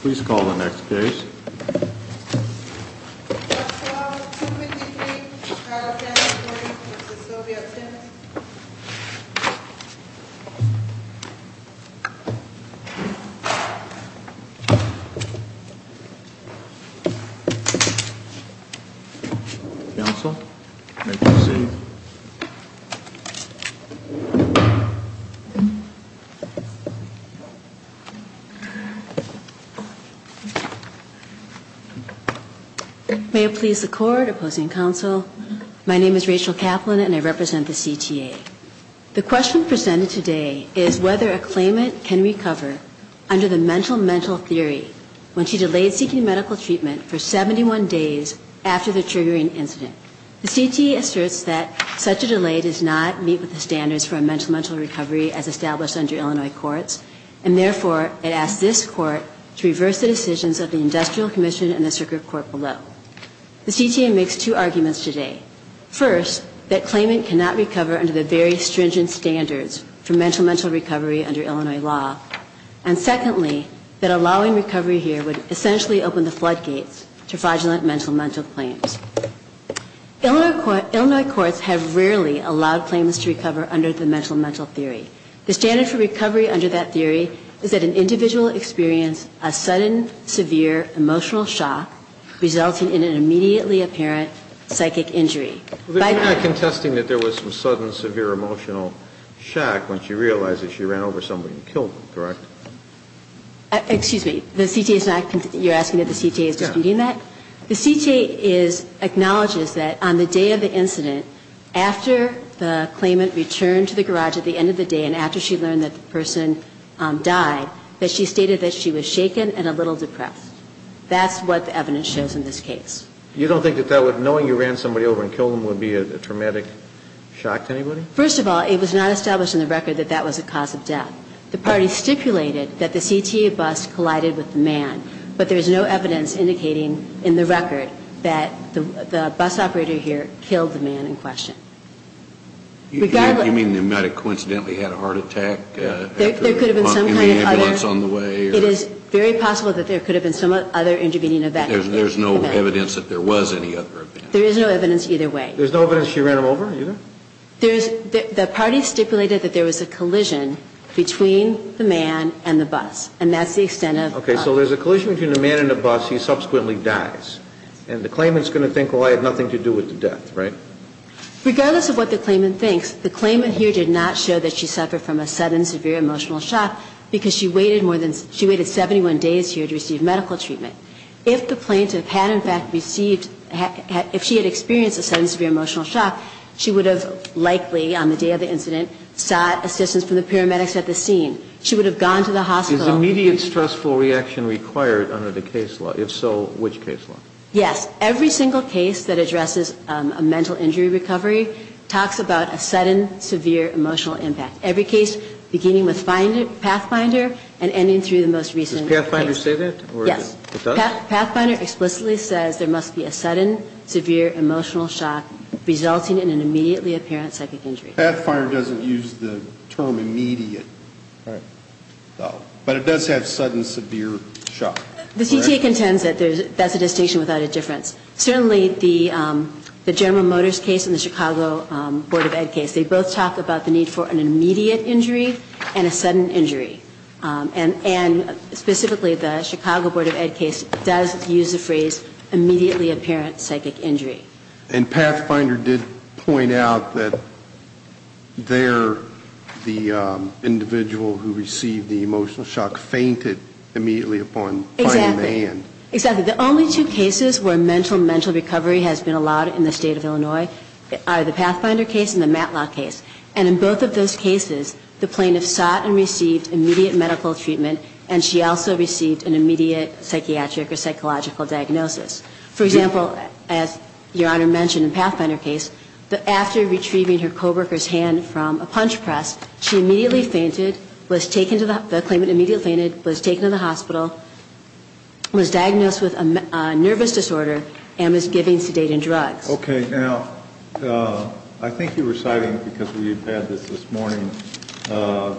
Please call the next case. Counsel, you may proceed. May it please the court, opposing counsel, my name is Rachel Kaplan and I represent the CTA. The question presented today is whether a claimant can recover under the mental mental theory when she delayed seeking medical treatment for 71 days after the triggering incident. The CTA asserts that such a delay does not meet with the standards for a mental mental recovery as established under Illinois courts and therefore it asks this court to reverse the decisions of the industrial commission and the circuit court below. The CTA makes two arguments today. First, that claimant cannot recover under the very stringent standards for mental mental recovery under Illinois law. And secondly, that allowing recovery here would essentially open the floodgates to fraudulent mental mental claims. Illinois courts have rarely allowed claimants to recover under the mental mental theory. The standard for recovery under that theory is that an individual experience a sudden severe emotional shock resulting in an immediately apparent psychic injury. But you're not contesting that there was some sudden severe emotional shock when she realized that she ran over somebody and killed them, correct? Excuse me, the CTA is not, you're asking if the CTA is disputing that? The CTA is, acknowledges that on the day of the incident, after the claimant returned to the garage at the end of the day and after she learned that the person died, that she stated that she was shaken and a little depressed. That's what the evidence shows in this case. You don't think that knowing you ran somebody over and killed them would be a traumatic shock to anybody? First of all, it was not established in the record that that was a cause of death. The party stipulated that the CTA bus collided with the man, but there is no evidence indicating in the record that the bus operator here killed the man in question. You mean the medic coincidentally had a heart attack? There could have been some kind of other, it is very possible that there could have been some other intervening event. There's no evidence that there was any other event. There is no evidence either way. There's no evidence she ran him over either? The party stipulated that there was a collision between the man and the bus, and that's the extent of... Okay, so there's a collision between the man and the bus, he subsequently dies, and the claimant's going to think, well, I had nothing to do with the death, right? Regardless of what the claimant thinks, the claimant here did not show that she suffered from a sudden severe emotional shock because she waited 71 days here to receive medical treatment. If the plaintiff had in fact received, if she had experienced a sudden severe emotional shock, she would have likely, on the day of the incident, sought assistance from the paramedics at the scene. She would have gone to the hospital... Is immediate stressful reaction required under the case law? If so, which case law? Yes. Every single case that addresses a mental injury recovery talks about a sudden severe emotional impact. Every case beginning with Pathfinder and ending through the most recent case. Does Pathfinder say that? Yes. It does? Pathfinder explicitly says there must be a sudden severe emotional shock resulting in an immediately apparent psychic injury. Pathfinder doesn't use the term immediate, though, but it does have sudden severe shock. The CTA contends that that's a distinction without a difference. Certainly the General Motors case and the Chicago Board of Ed case, they both talk about the need for an immediate injury and a sudden injury. And specifically the Chicago Board of Ed case does use the phrase immediately apparent psychic injury. And Pathfinder did point out that there the individual who received the emotional shock fainted immediately upon finding the hand. Exactly. The only two cases where mental recovery has been allowed in the state of Illinois are the Pathfinder case and the Matlock case. And in both of those cases, the plaintiff sought and received immediate medical treatment, and she also received an immediate psychiatric or psychological diagnosis. For example, as Your Honor mentioned in the Pathfinder case, after retrieving her co-worker's hand from a punch press, she immediately fainted, was taken to the hospital, was diagnosed with a nervous disorder, and was given sedating drugs. Okay. Now, I think you were citing, because we had this this morning,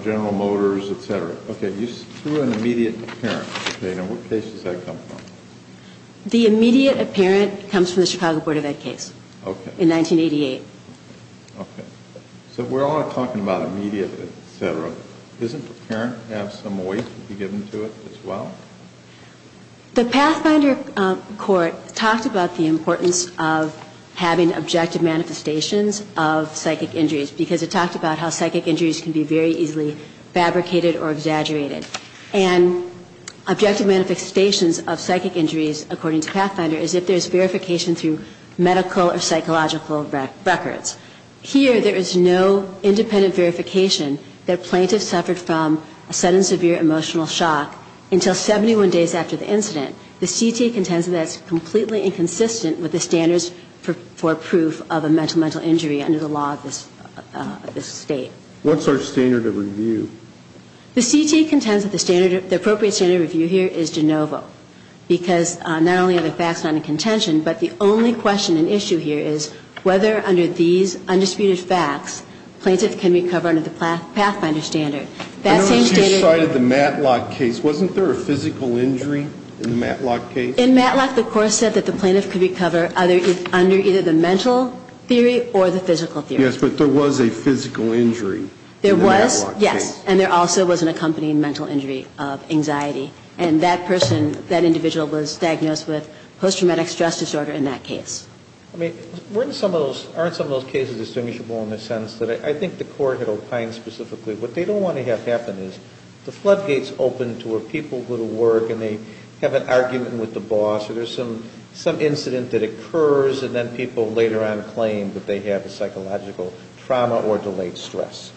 General Motors, et cetera. Okay. You threw an immediate apparent. Okay. Now, what case does that come from? The immediate apparent comes from the Chicago Board of Ed case. Okay. In 1988. Okay. So we're all talking about immediate, et cetera. Doesn't apparent have some weight to be given to it as well? The Pathfinder court talked about the importance of having objective manifestations of psychic injuries, because it talked about how psychic injuries can be very easily fabricated or exaggerated. And objective manifestations of psychic injuries, according to Pathfinder, is if there's verification through medical or psychological records. Here, there is no independent verification that a plaintiff suffered from a sudden severe emotional shock until 71 days after the incident. The CTA contends that that's completely inconsistent with the standards for proof of a mental injury under the law of this state. What's our standard of review? The CTA contends that the appropriate standard of review here is de novo, because not only are the facts not in contention, but the only question and issue here is whether under these undisputed facts, plaintiff can recover under the Pathfinder standard. I noticed you cited the Matlock case. Wasn't there a physical injury in the Matlock case? In Matlock, the court said that the plaintiff could recover under either the mental theory or the physical theory. Yes, but there was a physical injury in the Matlock case. There was, yes. And there also was an accompanying mental injury of anxiety. And that person, that individual was diagnosed with post-traumatic stress disorder in that case. I mean, weren't some of those, aren't some of those cases distinguishable in the sense that I think the court had opined specifically what they don't want to have happen is the floodgates open to where people go to work and they have an argument with the boss or there's some incident that occurs and then people later on claim that they have a psychological trauma or delayed stress.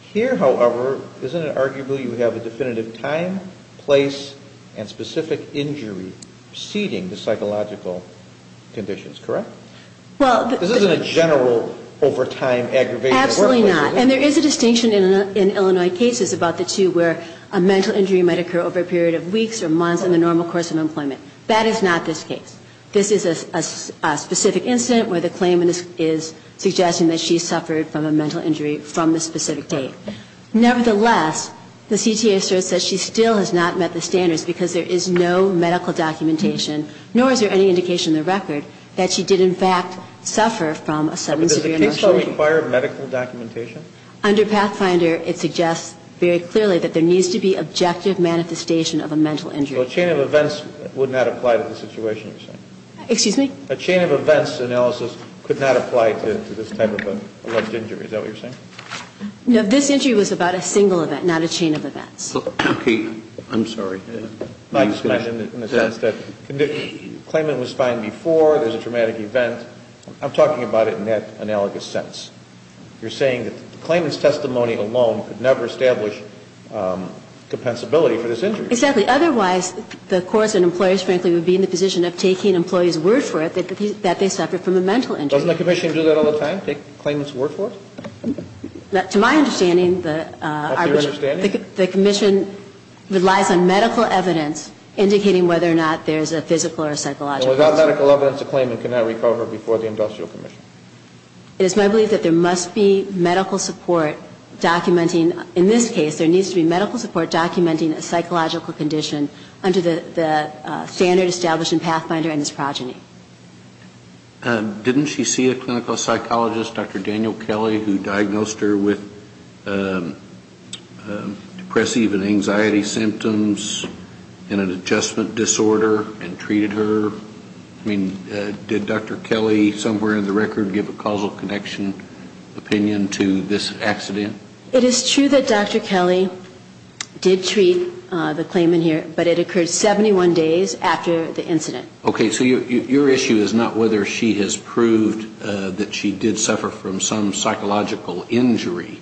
Here, however, isn't it arguable you have a definitive time, place, and specific injury preceding the psychological conditions, correct? This isn't a general over time aggravation. Absolutely not. And there is a distinction in Illinois cases about the two where a mental injury might occur over a period of weeks or months in the normal course of employment. That is not this case. This is a specific incident where the claimant is suggesting that she suffered from a mental injury from a specific date. Nevertheless, the CTA asserts that she still has not met the standards because there is no medical documentation, nor is there any indication in the record that she did in fact suffer from a sudden severe mental injury. But does the case still require medical documentation? Under Pathfinder, it suggests very clearly that there needs to be objective manifestation of a mental injury. So a chain of events would not apply to the situation you're saying? Excuse me? A chain of events analysis could not apply to this type of an alleged injury. Is that what you're saying? No. This injury was about a single event, not a chain of events. Okay. I'm sorry. Not in the sense that the claimant was fine before, there was a traumatic event. I'm talking about it in that analogous sense. You're saying that the claimant's testimony alone could never establish compensability for this injury. Exactly. Otherwise, the courts and employers, frankly, would be in the position of taking employees' word for it that they suffered from a mental injury. Doesn't the commission do that all the time, take claimants' word for it? To my understanding, the commission relies on medical evidence indicating whether or not there is a physical or psychological. Without medical evidence, the claimant cannot recover before the industrial commission. It is my belief that there must be medical support documenting. In this case, there needs to be medical support documenting a psychological condition under the standard established in Pathfinder and his progeny. Didn't she see a clinical psychologist, Dr. Daniel Kelly, who diagnosed her with depressive and anxiety symptoms and an adjustment disorder and treated her? I mean, did Dr. Kelly somewhere in the record give a causal connection opinion to this accident? It is true that Dr. Kelly did treat the claimant here, but it occurred 71 days after the incident. Okay. So your issue is not whether she has proved that she did suffer from some psychological injury.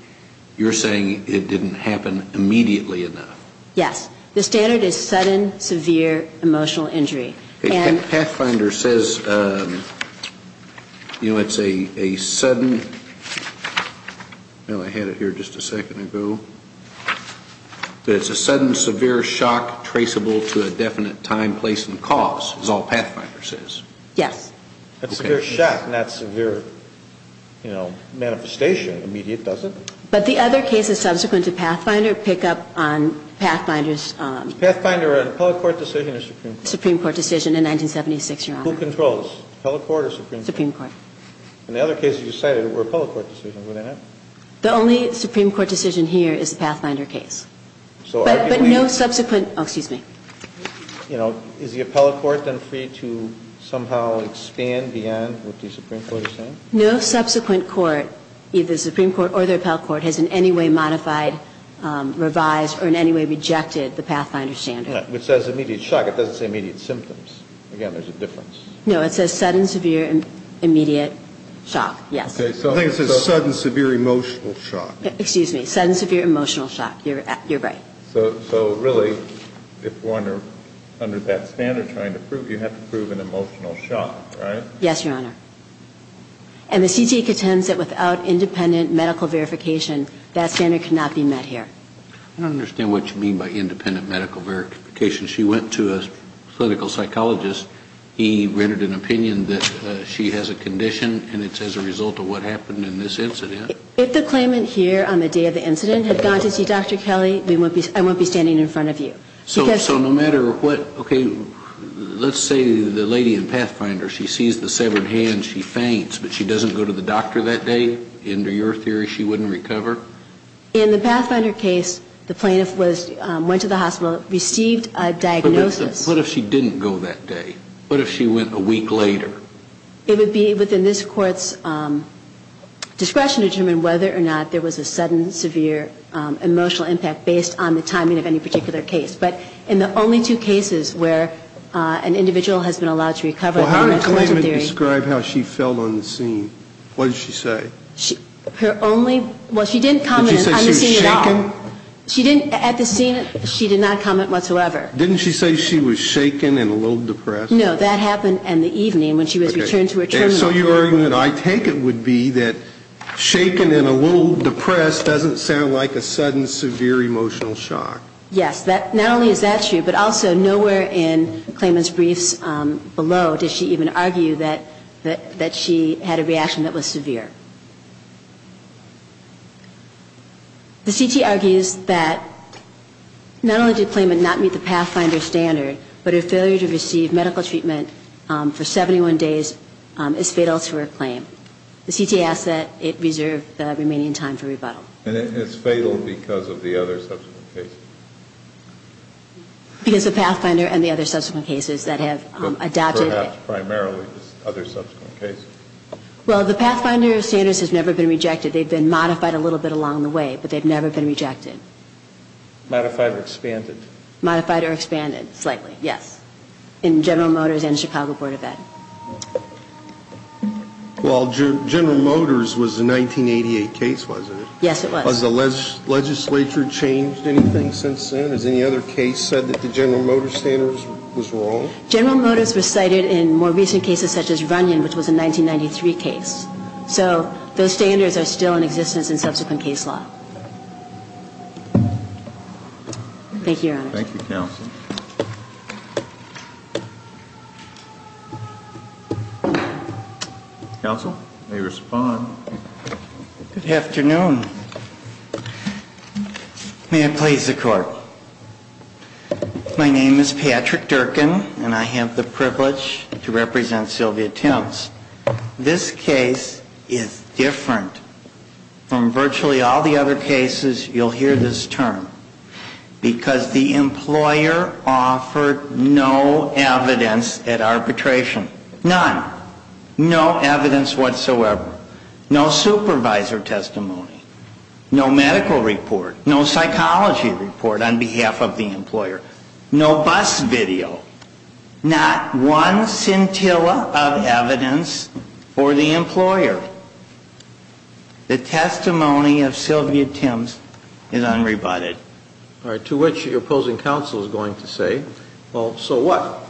You're saying it didn't happen immediately enough. Yes. The standard is sudden, severe emotional injury. Pathfinder says, you know, it's a sudden, well, I had it here just a second ago, that it's a sudden, severe shock traceable to a definite time, place, and cause, is all Pathfinder says. Yes. That's severe shock, not severe, you know, manifestation, immediate, does it? But the other cases subsequent to Pathfinder pick up on Pathfinder's... Supreme Court decision in 1976, Your Honor. Who controls? Appellate court or Supreme Court? Supreme Court. And the other cases you cited were appellate court decisions. Were they not? The only Supreme Court decision here is the Pathfinder case. But no subsequent, oh, excuse me. You know, is the appellate court then free to somehow expand beyond what the Supreme Court is saying? No subsequent court, either the Supreme Court or the appellate court, has in any way modified, revised, or in any way rejected the Pathfinder standard. It says immediate shock. It doesn't say immediate symptoms. Again, there's a difference. No, it says sudden, severe, immediate shock. Yes. I think it says sudden, severe, emotional shock. Excuse me. Sudden, severe, emotional shock. You're right. So really, if one are under that standard trying to prove, you have to prove an emotional shock, right? Yes, Your Honor. And the CTA contends that without independent medical verification, that standard cannot be met here. I don't understand what you mean by independent medical verification. She went to a clinical psychologist. He rendered an opinion that she has a condition, and it's as a result of what happened in this incident. If the claimant here on the day of the incident had gone to see Dr. Kelly, I wouldn't be standing in front of you. So no matter what, okay, let's say the lady in Pathfinder, she sees the severed hand, she faints, but she doesn't go to the doctor that day? Under your theory, she wouldn't recover? In the Pathfinder case, the plaintiff went to the hospital, received a diagnosis. But what if she didn't go that day? What if she went a week later? It would be within this Court's discretion to determine whether or not there was a sudden, severe, emotional impact based on the timing of any particular case. But in the only two cases where an individual has been allowed to recover under mental illness theory. Well, how did the claimant describe how she felt on the scene? What did she say? Well, she didn't comment on the scene at all. Did she say she was shaken? At the scene, she did not comment whatsoever. Didn't she say she was shaken and a little depressed? No, that happened in the evening when she was returned to her terminal. So your argument, I take it, would be that shaken and a little depressed doesn't sound like a sudden, severe, emotional shock. Yes, not only is that true, but also nowhere in the claimant's briefs below does she even argue that she had a reaction that was severe. The CT argues that not only did the claimant not meet the Pathfinder standard, but her failure to receive medical treatment for 71 days is fatal to her claim. The CT asks that it reserve the remaining time for rebuttal. And it's fatal because of the other subsequent cases? Because of Pathfinder and the other subsequent cases that have adopted it. Perhaps primarily the other subsequent cases. Well, the Pathfinder standard has never been rejected. They've been modified a little bit along the way, but they've never been rejected. Modified or expanded? Modified or expanded, slightly, yes. In General Motors and the Chicago Board of Ed. Well, General Motors was a 1988 case, wasn't it? Yes, it was. Has the legislature changed anything since then? Has any other case said that the General Motors standard was wrong? General Motors was cited in more recent cases such as Runyon, which was a 1993 case. So those standards are still in existence in subsequent case law. Thank you, Your Honor. Thank you, counsel. Counsel may respond. Good afternoon. May it please the Court. My name is Patrick Durkin, and I have the privilege to represent Sylvia Tintz. This case is different from virtually all the other cases you'll hear this term. Because the employer offered no evidence at arbitration. None. No evidence whatsoever. No supervisor testimony. No medical report. No psychology report on behalf of the employer. No bus video. Not one scintilla of evidence for the employer. The testimony of Sylvia Tintz is unrebutted. All right. To which your opposing counsel is going to say, well, so what?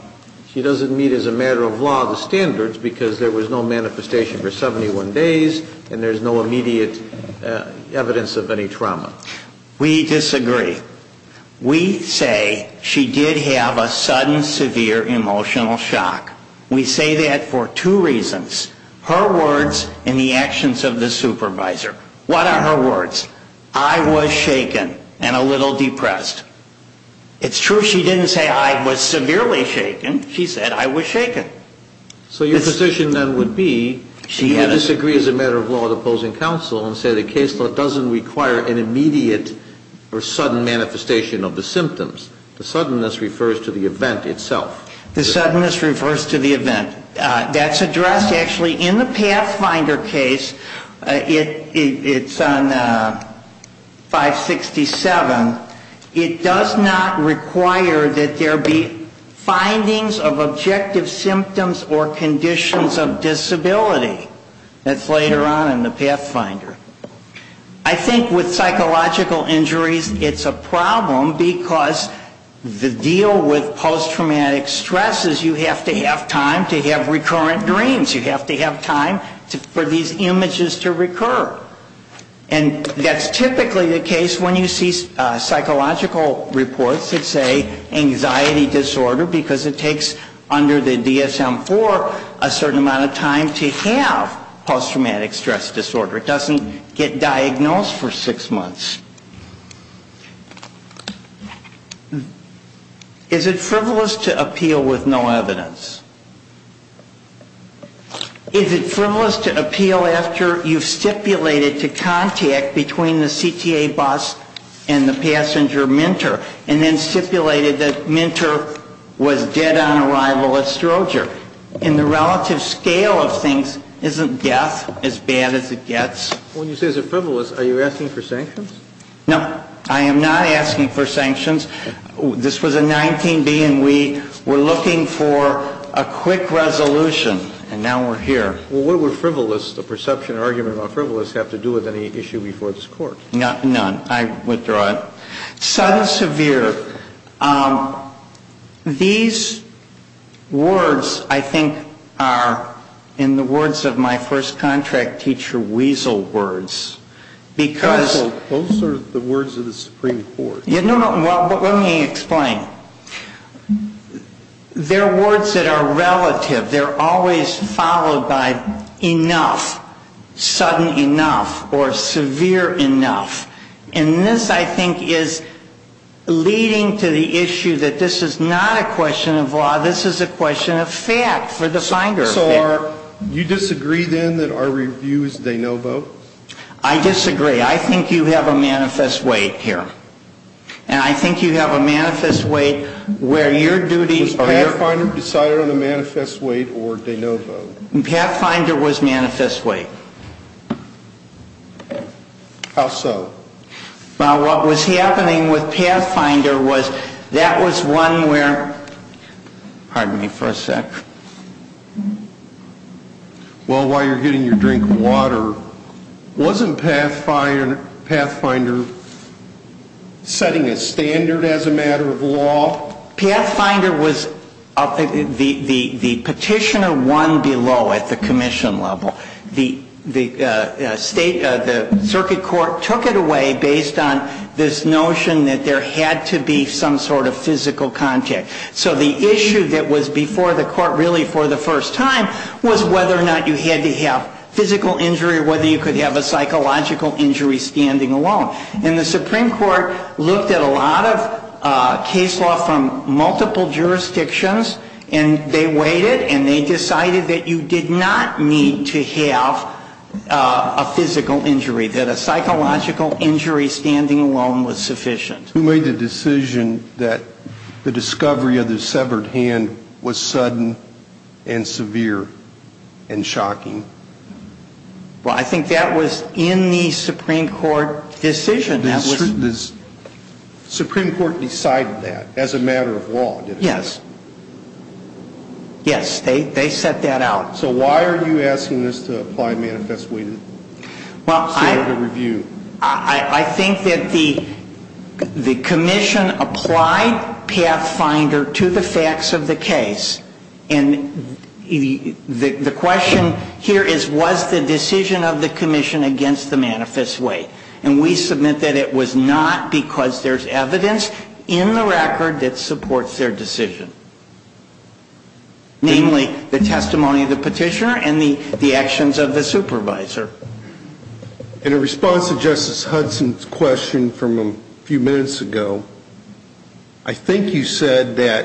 She doesn't meet as a matter of law the standards because there was no manifestation for 71 days, and there's no immediate evidence of any trauma. We disagree. We say she did have a sudden severe emotional shock. We say that for two reasons. Her words and the actions of the supervisor. What are her words? I was shaken and a little depressed. It's true she didn't say I was severely shaken. She said I was shaken. So your position then would be you disagree as a matter of law with opposing counsel and say the case doesn't require an immediate or sudden manifestation of the symptoms. The suddenness refers to the event itself. The suddenness refers to the event. That's addressed actually in the Pathfinder case. It's on 567. It does not require that there be findings of objective symptoms or conditions of disability. That's later on in the Pathfinder. I think with psychological injuries it's a problem because the deal with post-traumatic stress is you have to have time to have recurrent dreams. You have to have time for these images to recur. And that's typically the case when you see psychological reports that say anxiety disorder because it takes under the DSM-IV a certain amount of time to have post-traumatic stress disorder. It doesn't get diagnosed for six months. Is it frivolous to appeal with no evidence? Is it frivolous to appeal after you've stipulated to contact between the CTA bus and the passenger minter and then stipulated that minter was dead on arrival at Stroger? And the relative scale of things isn't death as bad as it gets. When you say it's frivolous, are you asking for sanctions? No, I am not asking for sanctions. This was a 19-B, and we were looking for a quick resolution, and now we're here. Well, what would frivolous, the perception or argument about frivolous, have to do with any issue before this Court? None. I withdraw it. Sudden, severe. These words, I think, are in the words of my first contract teacher, weasel words. Counsel, those are the words of the Supreme Court. Well, let me explain. They're words that are relative. They're always followed by enough, sudden enough, or severe enough. And this, I think, is leading to the issue that this is not a question of law. This is a question of fact for the finder. So you disagree, then, that our review is de novo? I disagree. I disagree. I think you have a manifest weight here. And I think you have a manifest weight where your duty as pathfinder. Are you deciding on a manifest weight or de novo? Pathfinder was manifest weight. How so? Well, what was happening with pathfinder was that was one where, pardon me for a sec. Well, while you're getting your drink of water, wasn't pathfinder setting a standard as a matter of law? Pathfinder was the petitioner one below at the commission level. The circuit court took it away based on this notion that there had to be some sort of physical contact. So the issue that was before the court really for the first time was whether or not you had to have physical injury or whether you could have a psychological injury standing alone. And the Supreme Court looked at a lot of case law from multiple jurisdictions, and they weighed it and they decided that you did not need to have a physical injury, that a psychological injury standing alone was sufficient. Who made the decision that the discovery of the severed hand was sudden and severe and shocking? Well, I think that was in the Supreme Court decision. The Supreme Court decided that as a matter of law, didn't it? Yes. Yes, they set that out. So why are you asking us to apply manifest weight in the standard of review? I think that the commission applied pathfinder to the facts of the case. And the question here is, was the decision of the commission against the manifest weight? And we submit that it was not because there's evidence in the record that supports their decision, namely the testimony of the petitioner and the actions of the supervisor. In response to Justice Hudson's question from a few minutes ago, I think you said that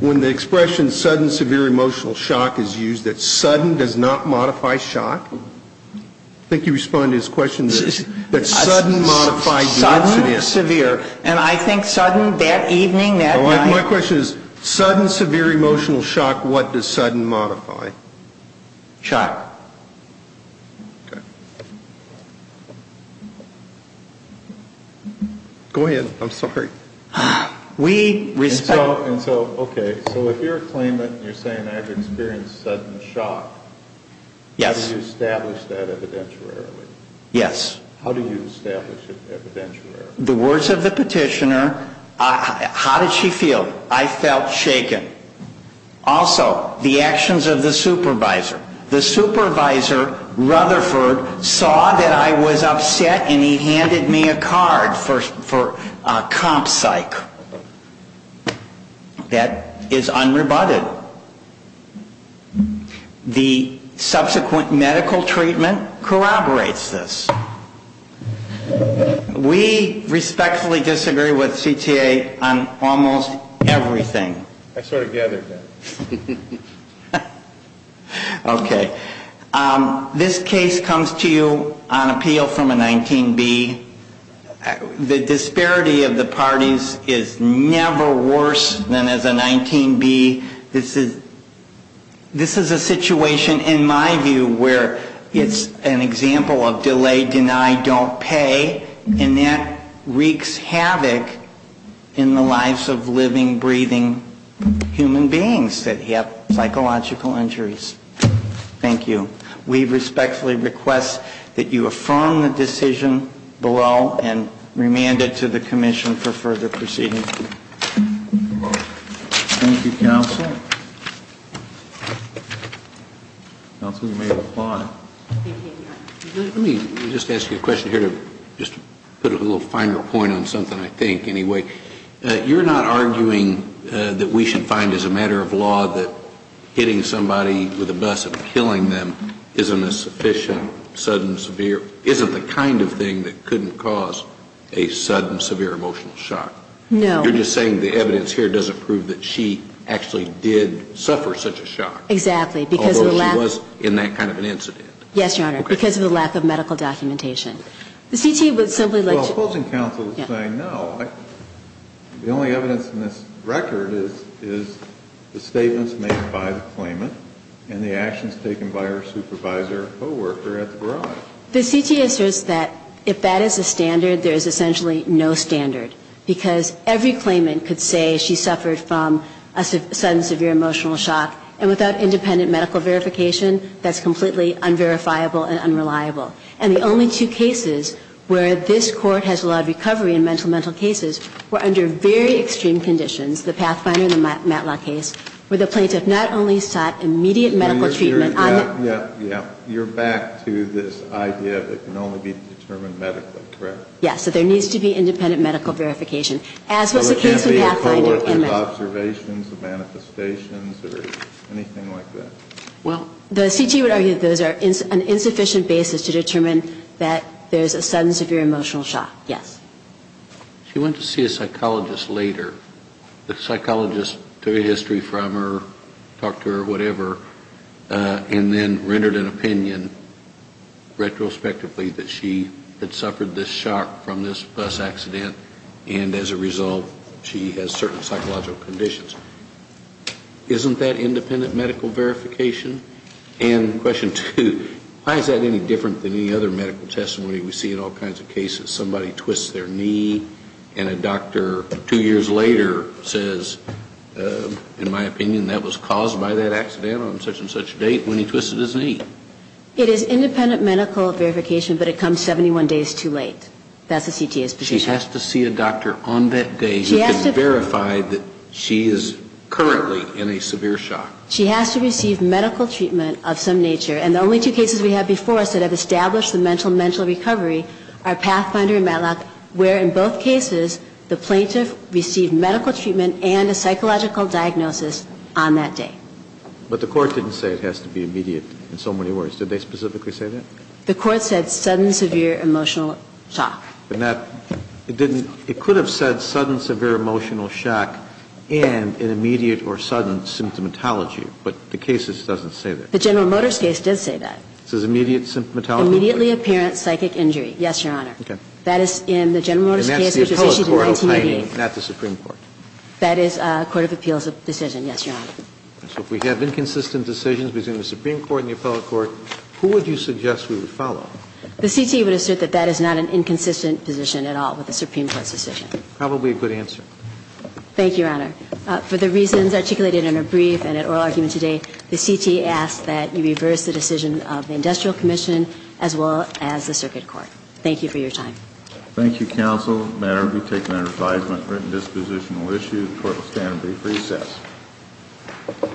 when the expression sudden severe emotional shock is used, that sudden does not modify shock. I think you responded to his question that sudden modifies sudden severe. Sudden severe. And I think sudden that evening, that night. My question is, sudden severe emotional shock, what does sudden modify? Shock. Go ahead. I'm sorry. And so, okay, so if you're claiming that you're saying I've experienced sudden shock, how do you establish that evidentiarily? Yes. How do you establish it evidentiarily? The words of the petitioner, how did she feel? I felt shaken. Also, the actions of the supervisor. The supervisor, Rutherford, saw that I was upset and he handed me a card for a comp psych. That is unrebutted. The subsequent medical treatment corroborates this. We respectfully disagree with CTA on almost everything. I sort of gathered that. Okay. This case comes to you on appeal from a 19B. The disparity of the parties is never worse than as a 19B. This is a situation, in my view, where it's an example of delay, deny, don't pay, and that wreaks havoc in the lives of living, breathing human beings that have psychological injuries. Thank you. We respectfully request that you affirm the decision below and remand it to the commission for further proceedings. Thank you, counsel. Counsel, you may reply. Let me just ask you a question here to just put a little finer point on something, I think, anyway. You're not arguing that we should find as a matter of law that hitting somebody with a bus and killing them isn't a sufficient sudden severe, isn't the kind of thing that couldn't cause a sudden severe emotional shock. No. You're just saying the evidence here doesn't prove that she actually did suffer such a shock. Exactly. Although she was in that kind of an incident. Yes, Your Honor, because of the lack of medical documentation. The CT would simply like to – Well, opposing counsel is saying no. The only evidence in this record is the statements made by the claimant and the actions taken by her supervisor or co-worker at the barrage. The CT asserts that if that is the standard, there is essentially no standard, because every claimant could say she suffered from a sudden severe emotional shock, and without independent medical verification, that's completely unverifiable and unreliable. And the only two cases where this Court has allowed recovery in mental-to-mental cases were under very extreme conditions, the Pathfinder and the Matlock case, where the plaintiff not only sought immediate medical treatment – You're back to this idea that it can only be determined medically, correct? Yes. So there needs to be independent medical verification. Well, it can't be a co-worker's observations, manifestations, or anything like that. Well, the CT would argue that those are an insufficient basis to determine that there is a sudden severe emotional shock. Yes. She went to see a psychologist later. The psychologist took a history from her, talked to her, whatever, and then rendered an opinion retrospectively that she had suffered this shock from this bus accident. And as a result, she has certain psychological conditions. Isn't that independent medical verification? And question two, why is that any different than any other medical testimony we see in all kinds of cases? Somebody twists their knee, and a doctor two years later says, in my opinion, that was caused by that accident on such and such date, when he twisted his knee. It is independent medical verification, but it comes 71 days too late. That's a CTA's position. She has to see a doctor on that day who can verify that she is currently in a severe shock. She has to receive medical treatment of some nature. And the only two cases we have before us that have established the mental mental recovery are Pathfinder and Matlock, where in both cases, the plaintiff received medical treatment and a psychological diagnosis on that day. But the court didn't say it has to be immediate in so many words. Did they specifically say that? The court said sudden severe emotional shock. But, Matt, it didn't – it could have said sudden severe emotional shock and an immediate or sudden symptomatology, but the case doesn't say that. The General Motors case did say that. It says immediate symptomatology. Immediately apparent psychic injury. Yes, Your Honor. Okay. That is in the General Motors case, which was issued in 1988. And that's the appellate court opining, not the Supreme Court. That is a court of appeals decision. Yes, Your Honor. So if we have inconsistent decisions between the Supreme Court and the appellate court, who would you suggest we would follow? The CTE would assert that that is not an inconsistent position at all with the Supreme Court's decision. Probably a good answer. Thank you, Your Honor. For the reasons articulated in her brief and in oral argument today, the CTE asks that you reverse the decision of the Industrial Commission as well as the Circuit Court. Thank you for your time. Thank you, counsel. The matter will be taken under advisement. Written disposition will issue. The court will stand brief recess. Thank you very much.